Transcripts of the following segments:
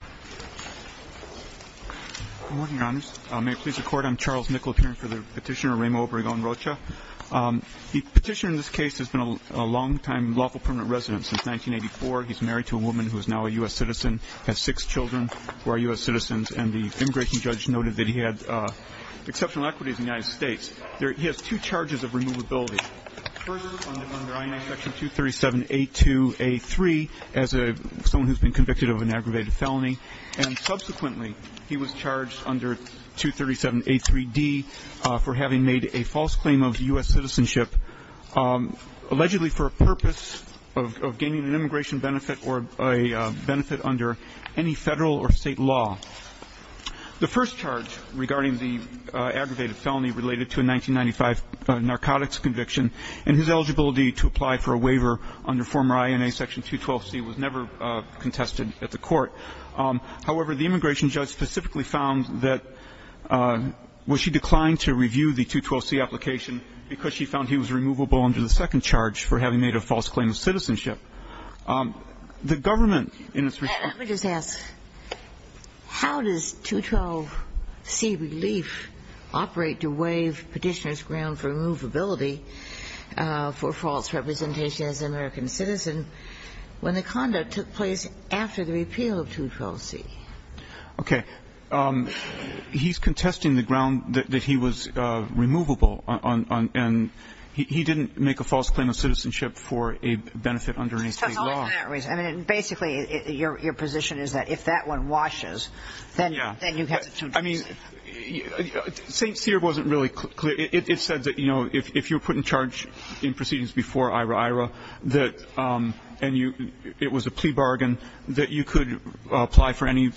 Good morning, Your Honors. May it please the Court, I'm Charles Nicollet here for the petitioner Remo Obregon Rocha. The petitioner in this case has been a long-time lawful permanent resident since 1984. He's married to a woman who is now a U.S. citizen, has six children who are U.S. citizens, and the immigration judge noted that he had exceptional equities in the United States. He has two charges of removability. First, under INA Section 237A2A3, as someone who has been convicted of an aggravated felony, and subsequently he was charged under 237A3D for having made a false claim of U.S. citizenship, allegedly for a purpose of gaining an immigration benefit or a benefit under any federal or state law. The first charge regarding the aggravated felony related to a 1995 narcotics conviction and his eligibility to apply for a waiver under former INA Section 212C was never contested at the court. However, the immigration judge specifically found that she declined to review the 212C application because she found he was removable under the second charge for having made a false claim of citizenship. The government in its response to the petitioner's claim of citizenship, the government in its response to the petitioner's claim of citizenship as an American citizen, when the conduct took place after the repeal of 212C. Okay. He's contesting the ground that he was removable, and he didn't make a false claim of citizenship for a benefit under any state law. So it's not for that reason. I mean, basically, your position is that if that one washes, then you have to choose. I mean, St. Cyr wasn't really clear. It said that, you know, if you're put in charge in proceedings before IRA-IRA, and it was a plea bargain, that you could apply for any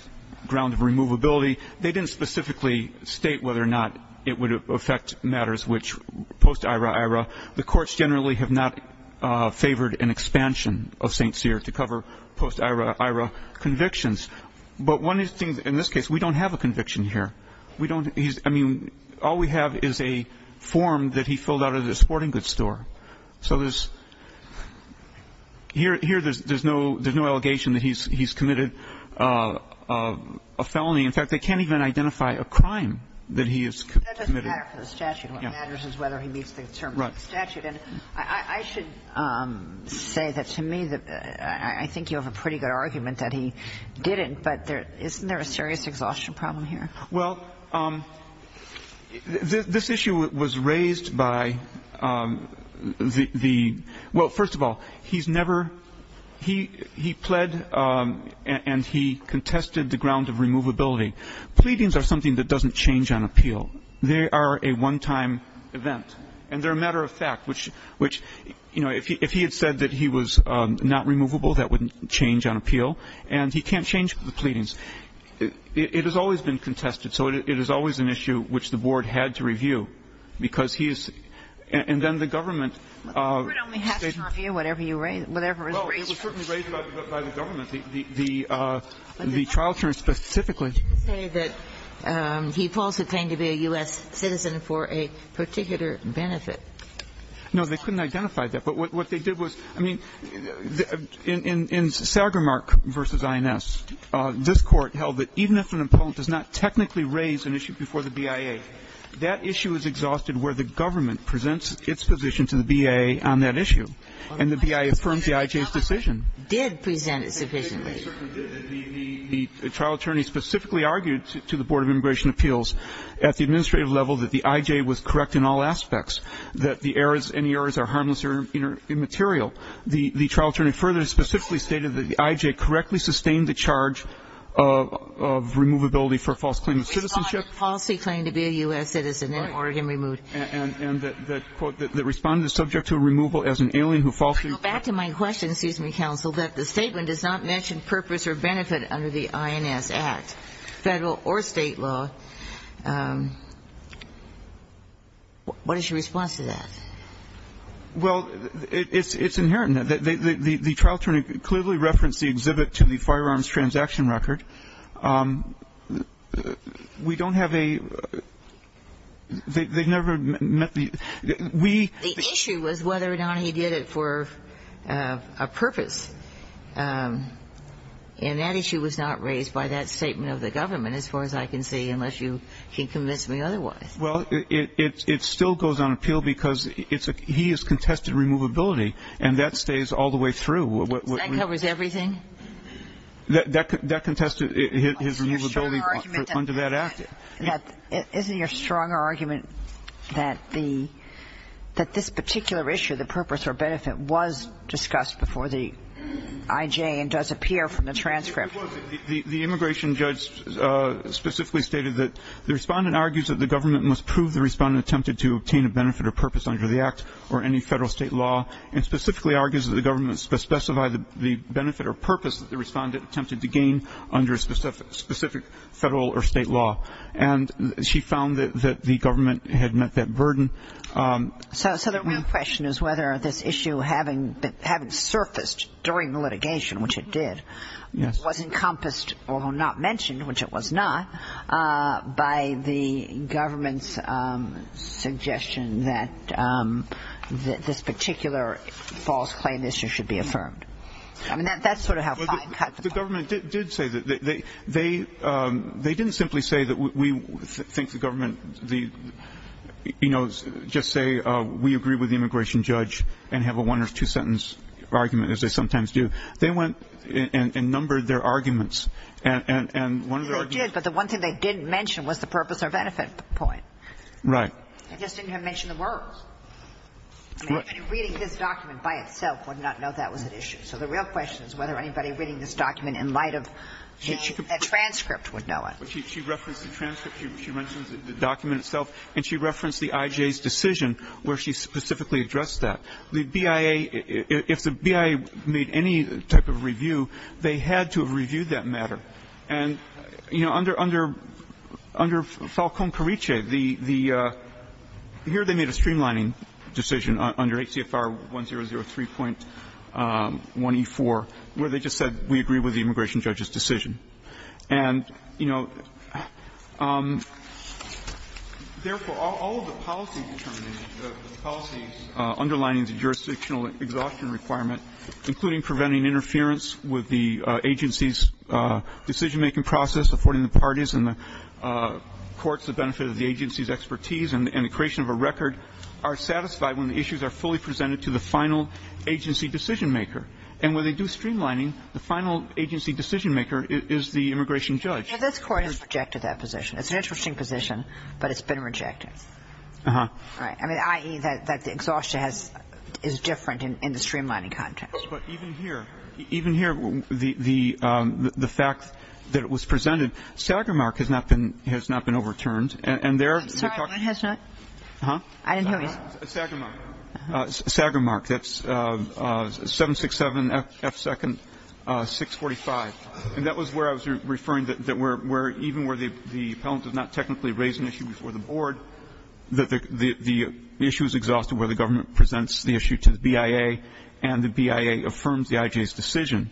ground of removability. They didn't specifically state whether or not it would affect matters which, post-IRA-IRA, the courts generally have not favored an expansion of St. Cyr to cover post-IRA-IRA convictions. But one of the things, in this case, we don't have a conviction here. We don't. I mean, all we have is a form that he filled out at a sporting goods store. So there's no allegation that he's committed a felony. In fact, they can't even identify a crime that he has committed. That doesn't matter for the statute. What matters is whether he meets the terms of the statute. Right. And I should say that, to me, I think you have a pretty good argument that he didn't, but isn't there a serious exhaustion problem here? Well, this issue was raised by the – well, first of all, he's never – he pled and he contested the ground of removability. Pleadings are something that doesn't change on appeal. They are a one-time event, and they're a matter of fact, which, you know, if he had said that he was not removable, that wouldn't change on appeal, and he can't change the pleadings. It has always been contested, so it is always an issue which the board had to review, because he is – and then the government – But the board only has to review whatever you raise – whatever was raised. Well, it was certainly raised by the government. The trial terms specifically He didn't say that he falsely claimed to be a U.S. citizen for a particular benefit. No, they couldn't identify that. But what they did was – I mean, in Sagermark v. INS, this court held that even if an appellant does not technically raise an issue before the BIA, that issue is exhausted where the government presents its position to the BIA on that issue, and the BIA affirms the IJ's decision. The trial attorney specifically argued to the Board of Immigration Appeals at the administrative level that the IJ was correct in all aspects, that the errors – any errors are harmless or immaterial. The trial attorney further specifically stated that the IJ correctly sustained the charge of removability for a false claim of citizenship. He responded, falsely claimed to be a U.S. citizen and Oregon removed him. Right. And that, quote, that the respondent is subject to removal as an alien who falsely – Back to my question, excuse me, counsel, that the statement does not mention purpose or benefit under the INS Act, Federal or State law. What is your response to that? Well, it's inherent. The trial attorney clearly referenced the exhibit to the firearms transaction record. We don't have a – they've never met the – we The issue was whether or not he did it for a purpose. And that issue was not raised by that statement of the government, as far as I can see, unless you can convince me otherwise. Well, it still goes on appeal because it's – he has contested removability and that stays all the way through. That covers everything? That contested his removability under that Act. Isn't your stronger argument that the – that this particular issue, the purpose or benefit, was discussed before the IJ and does appear from the transcript? It was. The immigration judge specifically stated that the respondent argues that the government must prove the respondent attempted to obtain a benefit or purpose under the Act or any Federal or State law, and specifically argues that the government must specify the benefit or purpose that the respondent attempted to gain under specific Federal or State law. And she found that the government had met that burden. So the real question is whether this issue, having surfaced during the litigation, which it did, was encompassed, although not mentioned, which it was not, by the government's suggestion that this particular false claim issue should be affirmed. I mean, that's sort of how five cuts apply. The government did say that – they didn't simply say that we think the government – you know, just say we agree with the immigration judge and have a one- or two-sentence argument, as they sometimes do. They went and numbered their arguments, and one of their arguments – Right. I just didn't have to mention the words. I mean, anybody reading this document by itself would not know that was at issue. So the real question is whether anybody reading this document in light of a transcript would know it. She referenced the transcript. She mentions the document itself, and she referenced the IJ's decision where she specifically addressed that. The BIA – if the BIA made any type of review, they had to have reviewed that matter. And, you know, under Falcón-Carriche, the – here they made a streamlining decision under HCFR 1003.1E4, where they just said we agree with the immigration judge's decision. And, you know, therefore, all of the policy determinants – the policies underlining the jurisdictional exhaustion requirement, including preventing interference with the agency's decision-making process, affording the parties and the courts the benefit of the agency's expertise, and the creation of a record are satisfied when the issues are fully presented to the final agency decision-maker. And when they do streamlining, the final agency decision-maker is the immigration judge. Now, this Court has rejected that position. It's an interesting position, but it's been rejected. Uh-huh. Right. I mean, i.e., that the exhaustion has – is different in the streamlining context. Yes. But even here – even here, the fact that it was presented, SAGR mark has not been overturned. And there – I'm sorry. What has not? Uh-huh. I didn't hear you. SAGR mark. Uh-huh. SAGR mark. That's 767F2-645. And that was where I was referring that where – even where the appellant does not technically raise an issue before the board, that the issue is exhausted where the BIA affirms the IJ's decision.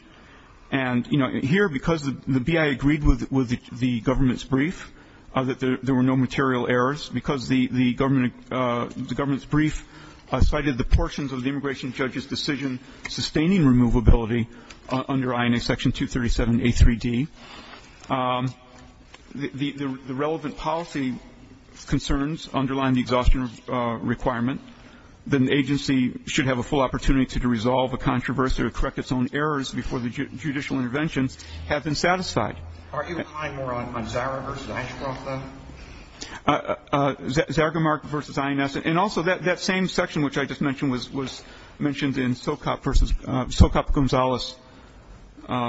And, you know, here, because the BIA agreed with the government's brief that there were no material errors, because the government – the government's brief cited the portions of the immigration judge's decision sustaining removability under INA Section 237A3D, the relevant policy concerns underline the exhaustion requirement that an agency should have a full opportunity to resolve a controversy or correct its own errors before the judicial interventions have been satisfied. Aren't you relying more on ZARA versus IJCRAF, though? SAGR mark versus INS. And also, that same section which I just mentioned was mentioned in SOCOP versus – SOCOP-Gonzalez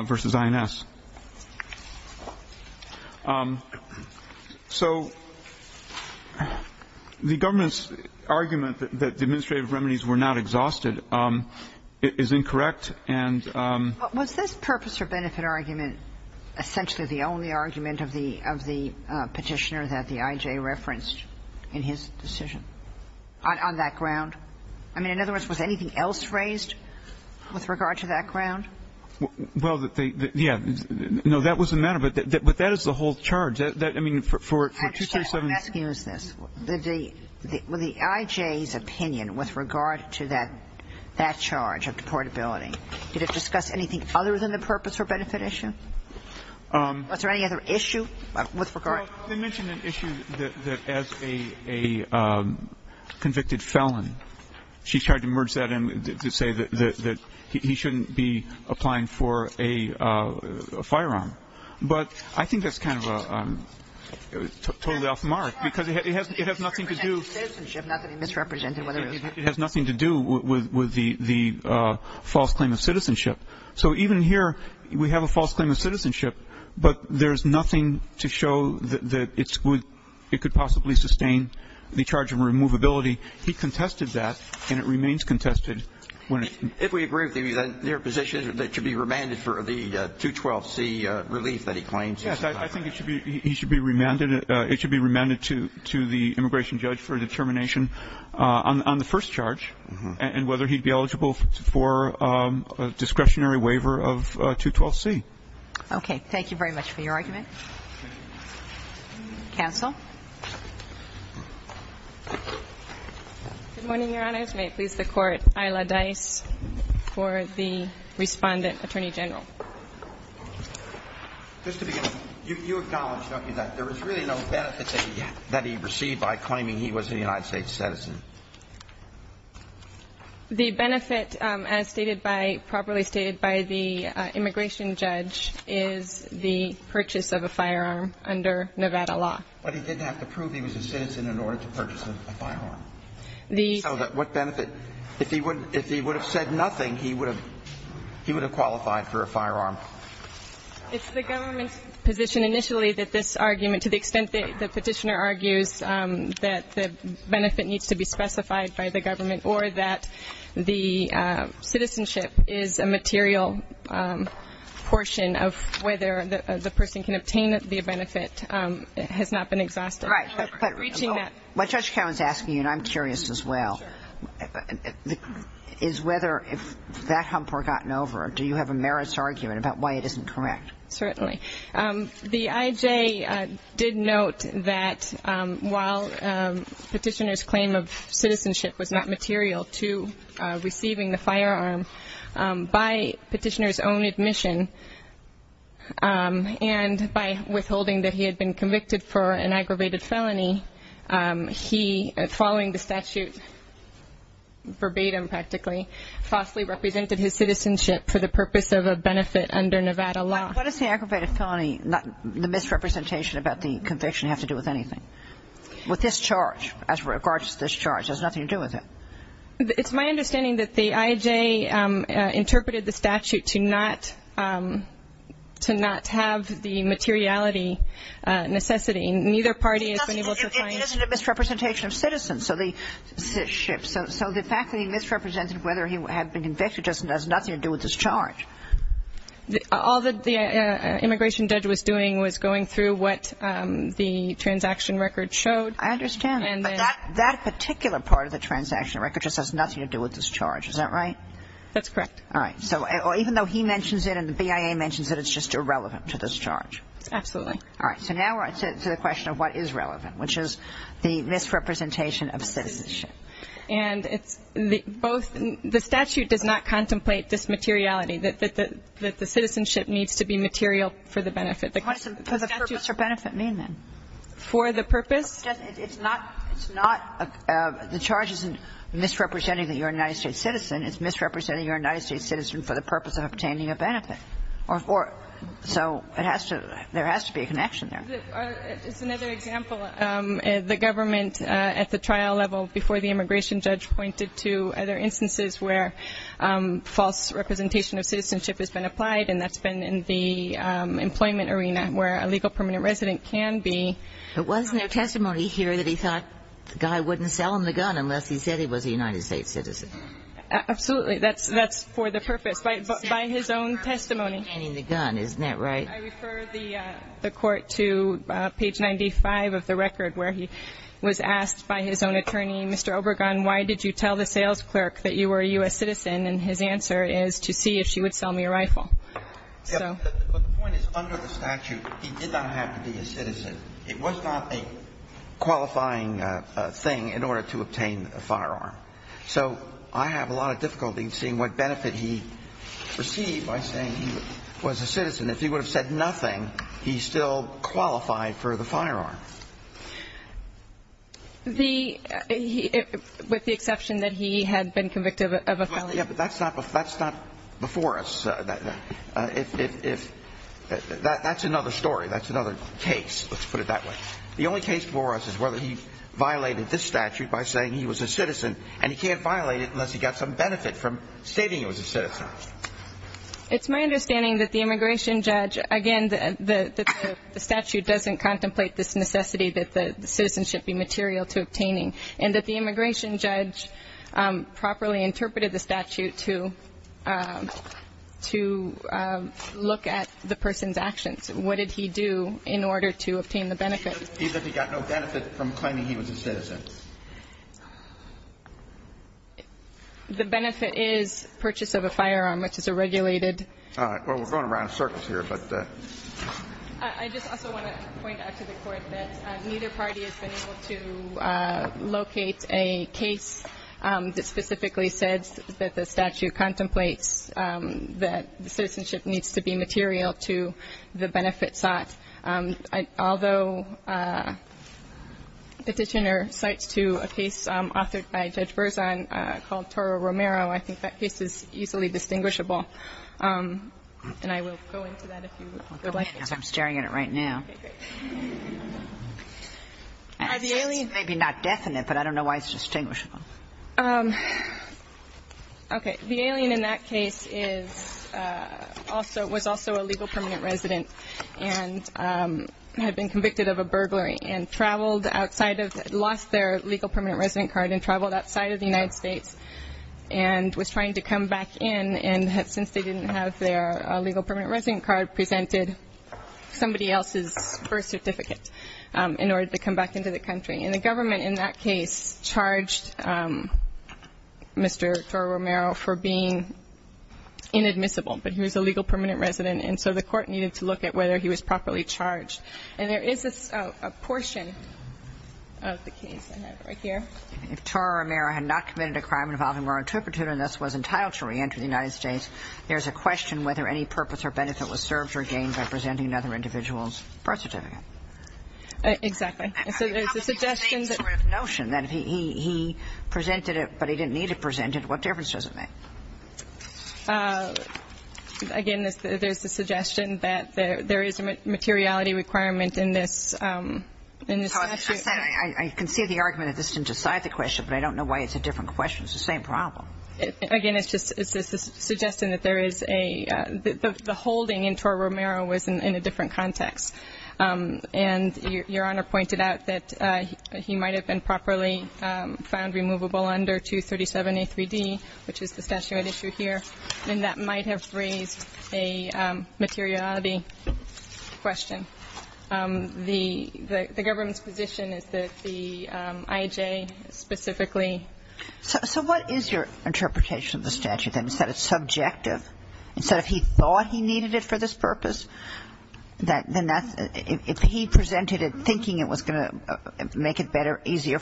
versus INS. So the government's argument that the administrative remedies were not exhausted is incorrect, and – But was this purpose or benefit argument essentially the only argument of the Petitioner that the IJ referenced in his decision on that ground? I mean, in other words, was anything else raised with regard to that ground? Well, that they – yeah. No, that was the matter, but that is the whole charge. I mean, for 237 – I understand what I'm asking is this. With the IJ's opinion with regard to that charge of deportability, did it discuss anything other than the purpose or benefit issue? Was there any other issue with regard – Well, they mentioned an issue that as a convicted felon, he should not be subject to the charge of deportability. And she tried to merge that in to say that he shouldn't be applying for a firearm. But I think that's kind of totally off the mark because it has nothing to do – It has nothing to do with the false claim of citizenship. So even here, we have a false claim of citizenship, but there's nothing to show that it could possibly sustain the charge of removability. He contested that, and it remains contested. If we agree with you, then your position is that it should be remanded for the 212C relief that he claims? Yes, I think it should be remanded to the immigration judge for determination on the first charge and whether he'd be eligible for a discretionary waiver of 212C. Okay. Thank you very much for your argument. Counsel. Good morning, Your Honors. May it please the Court, Ayla Dice for the Respondent, Attorney General. Just to begin, you acknowledge, don't you, that there was really no benefit that he received by claiming he was a United States citizen? The benefit, as stated by – properly stated by the immigration judge, is the purchase of a firearm under Nevada law. But he didn't have to prove he was a citizen in order to purchase a firearm. So what benefit – if he would have said nothing, he would have qualified for a firearm? It's the government's position initially that this argument, to the extent the petitioner argues that the benefit needs to be specified by the government or that the citizenship is a material portion of whether the person can obtain the benefit, has not been exhausted. Right. Reaching that – What Judge Cowen's asking you, and I'm curious as well, is whether if that hump were gotten over, do you have a merits argument about why it isn't correct? Certainly. The IJ did note that while petitioner's claim of citizenship was not material to receiving the firearm, by petitioner's own admission and by withholding that he had been convicted for an aggravated felony, he, following the statute verbatim practically, falsely represented his citizenship for the purpose of a benefit under Nevada law. What does the aggravated felony – the misrepresentation about the conviction have to do with anything? With this charge, as regards to this charge? It has nothing to do with it? It's my understanding that the IJ interpreted the statute to not have the materiality necessity. Neither party has been able to find – It isn't a misrepresentation of citizenship. So the fact that he misrepresented whether he had been convicted doesn't – has nothing to do with this charge. All that the immigration judge was doing was going through what the transaction record showed. I understand. But that particular part of the transaction record just has nothing to do with this charge. Is that right? That's correct. All right. So even though he mentions it and the BIA mentions it, it's just irrelevant to this charge? Absolutely. All right. So now we're on to the question of what is relevant, which is the misrepresentation of citizenship. And it's both – the statute does not contemplate this materiality, that the citizenship needs to be material for the benefit. What does the statute for benefit mean, then? For the purpose? It's not – the charge isn't misrepresenting that you're a United States citizen. It's misrepresenting you're a United States citizen for the purpose of obtaining a benefit. So it has to – there has to be a connection there. It's another example. The government, at the trial level before the immigration judge, pointed to other instances where false representation of citizenship has been applied, and that's been in the employment arena where a legal permanent resident can be. But wasn't there testimony here that he thought the guy wouldn't sell him the gun unless he said he was a United States citizen? That's for the purpose, by his own testimony. I mean, the gun. Isn't that right? I refer the Court to page 95 of the record, where he was asked by his own attorney, Mr. Obergon, why did you tell the sales clerk that you were a U.S. citizen? And his answer is, to see if she would sell me a rifle. But the point is, under the statute, he did not have to be a citizen. It was not a qualifying thing in order to obtain a firearm. So I have a lot of difficulty in seeing what benefit he received by saying he was a citizen. If he would have said nothing, he still qualified for the firearm. With the exception that he had been convicted of a felony. Yeah, but that's not before us. That's another story. That's another case. Let's put it that way. The only case before us is whether he violated this statute by saying he was a citizen, and he can't violate it unless he got some benefit from stating he was a citizen. It's my understanding that the immigration judge, again, the statute doesn't contemplate this necessity that the citizen should be material to obtaining, and that the immigration judge properly interpreted the statute to look at the person's actions. What did he do in order to obtain the benefit? He said he got no benefit from claiming he was a citizen. The benefit is purchase of a firearm, which is a regulated. All right. Well, we're going around in circles here, but. I just also want to point out to the Court that neither party has been able to locate a case that specifically says that the statute contemplates that the citizenship needs to be material to the benefit sought. Although Petitioner cites to a case authored by Judge Berzon called Toro-Romero, I think that case is easily distinguishable, and I will go into that if you would like me to. I'm staring at it right now. Okay, great. It's maybe not definite, but I don't know why it's distinguishable. Okay. The alien in that case was also a legal permanent resident, and had been convicted of a burglary, and traveled outside of the United States and was trying to come back in, and since they didn't have their legal permanent resident card, presented somebody else's birth certificate in order to come back into the country. And the government in that case charged Mr. Toro-Romero for being inadmissible, but he was a legal permanent resident, and so the court needed to look at whether he was properly charged. And there is a portion of the case I have right here. If Toro-Romero had not committed a crime involving moral intrepidity and thus was entitled to reenter the United States, there's a question whether any purpose or benefit was served or gained by presenting another individual's birth certificate. Exactly. And so there's a suggestion that he presented it, but he didn't need to present it. What difference does it make? Again, there's the suggestion that there is a materiality requirement in this statute. I'm sorry. I can see the argument that this didn't decide the question, but I don't know why it's a different question. It's the same problem. Again, it's just a suggestion that there is a – the holding in Toro-Romero was in a different context. And Your Honor pointed out that he might have been properly found removable under 237A3D, which is the statuette issue here, and that might have raised a materiality question. The government's position is that the IJ specifically – So what is your interpretation of the statute, then? Is that it's subjective? Is that if he thought he needed it for this purpose, then that's – if he presented it thinking it was going to make it better, even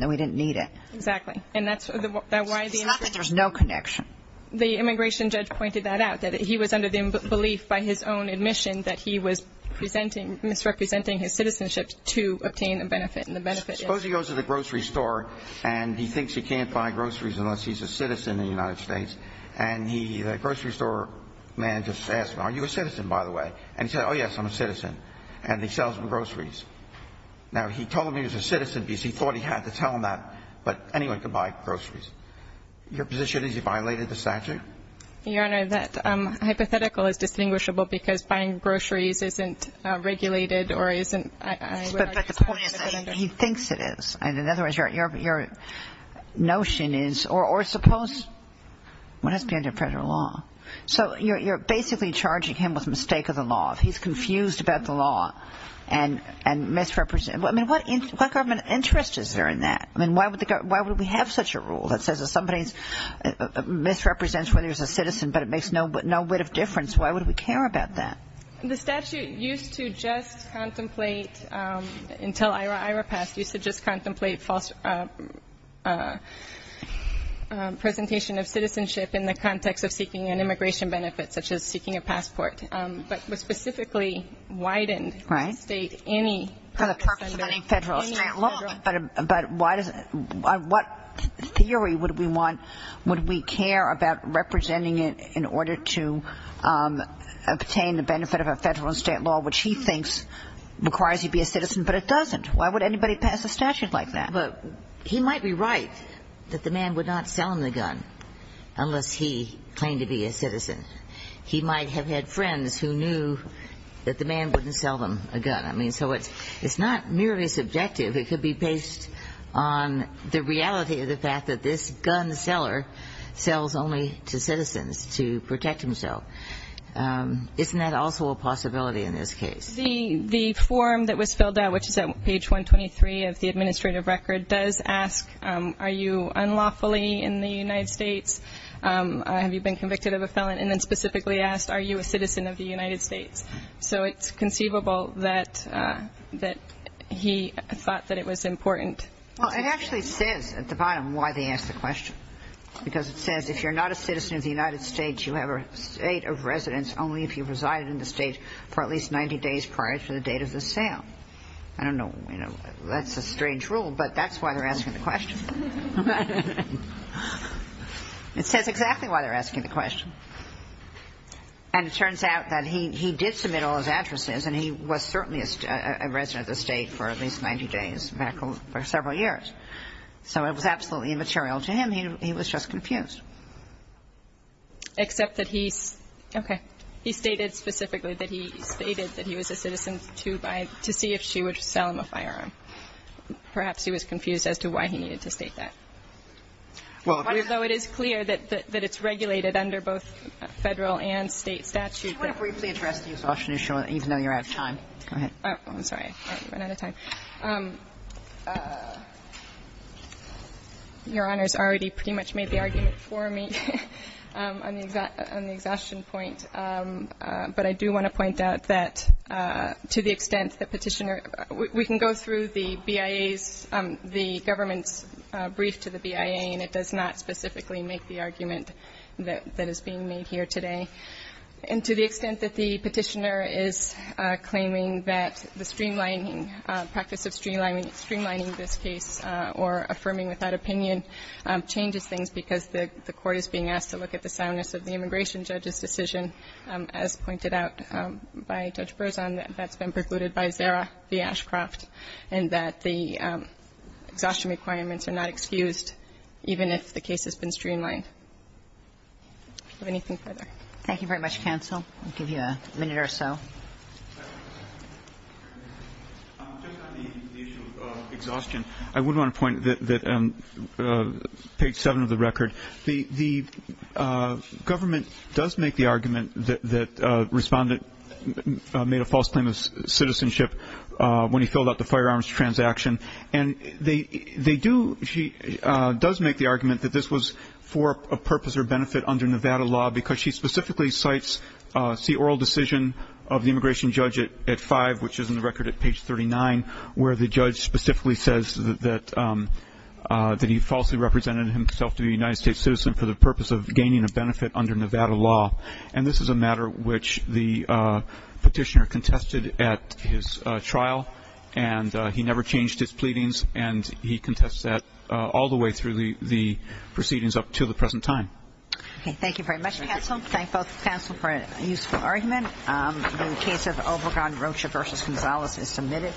though he didn't need it? Exactly. And that's why the – It's not that there's no connection. The immigration judge pointed that out, that he was under the belief by his own admission that he was presenting – misrepresenting his citizenship to obtain a benefit, and the benefit is – Suppose he goes to the grocery store and he thinks he can't buy groceries unless he's a citizen in the United States, and the grocery store man just asks him, are you a citizen, by the way? And he says, oh, yes, I'm a citizen. And he sells him groceries. Now, he told him he was a citizen because he thought he had to tell him that, but anyone can buy groceries. Your position is he violated the statute? Your Honor, that hypothetical is distinguishable because buying groceries isn't regulated or isn't – But the point is he thinks it is. In other words, your notion is – or suppose – what has to be under federal law? So you're basically charging him with mistake of the law. If he's confused about the law and misrepresents – I mean, what government interest is there in that? I mean, why would we have such a rule that says if somebody misrepresents whether he's a citizen but it makes no bit of difference, why would we care about that? The statute used to just contemplate – until Ira passed, used to just contemplate false presentation of citizenship in the context of seeking an immigration benefit, such as seeking a passport. But it specifically widened – Right. State any – For the purpose of any federal law. But why does – what theory would we want – would we care about representing it in order to obtain the benefit of a federal and state law, which he thinks requires you be a citizen, but it doesn't? Why would anybody pass a statute like that? He might be right that the man would not sell him the gun unless he claimed to be a citizen. He might have had friends who knew that the man wouldn't sell them a gun. I mean, so it's not merely subjective. It could be based on the reality of the fact that this gun seller sells only to citizens to protect himself. Isn't that also a possibility in this case? The form that was filled out, which is at page 123 of the administrative record, does ask are you unlawfully in the United States, have you been convicted of a felon, and then specifically asked are you a citizen of the United States. So it's conceivable that he thought that it was important. Well, it actually says at the bottom why they ask the question. Because it says if you're not a citizen of the United States, you have a state of residence only if you resided in the state for at least 90 days prior to the date of the sale. I don't know. That's a strange rule, but that's why they're asking the question. It says exactly why they're asking the question. And it turns out that he did submit all his addresses, and he was certainly a resident of the state for at least 90 days, back for several years. So it was absolutely immaterial to him. He was just confused. Except that he's okay. He stated specifically that he stated that he was a citizen to see if she would sell him a firearm. Perhaps he was confused as to why he needed to sell him a firearm. I just don't know. And I'm not going to state that. Although it is clear that it's regulated under both Federal and State statute. I just want to briefly address the exhaustion issue, even though you're out of time. Go ahead. I'm sorry. I'm out of time. Your Honor's already pretty much made the argument for me on the exhaustion point, but I do want to point out that to the extent that Petitioner We can go through the BIA's, the government's brief to the BIA, and it does not specifically make the argument that is being made here today. And to the extent that the Petitioner is claiming that the streamlining, practice of streamlining this case or affirming without opinion changes things because the court is being asked to look at the soundness of the immigration judge's decision, as pointed out by Judge Berzon, that's been precluded by Zara v. Ashcroft, and that the exhaustion requirements are not excused even if the case has been streamlined. Do you have anything further? Thank you very much, counsel. I'll give you a minute or so. Just on the issue of exhaustion, I would want to point that on page seven of the record, the government does make the argument that Respondent made a false claim of citizenship when he filled out the firearms transaction, and they do, she does make the argument that this was for a purpose or benefit under Nevada law because she specifically cites the oral decision of the immigration judge at five, which is in the record at page 39, where the judge specifically says that he falsely represented himself to be a United States citizen for the purpose of gaining a benefit under Nevada law. And this is a matter which the Petitioner contested at his trial, and he never changed his pleadings, and he contests that all the way through the proceedings up to the present time. Okay. Thank you very much, counsel. Thank both counsel for a useful argument. The case of Obergon-Rocha v. Gonzalez is submitted.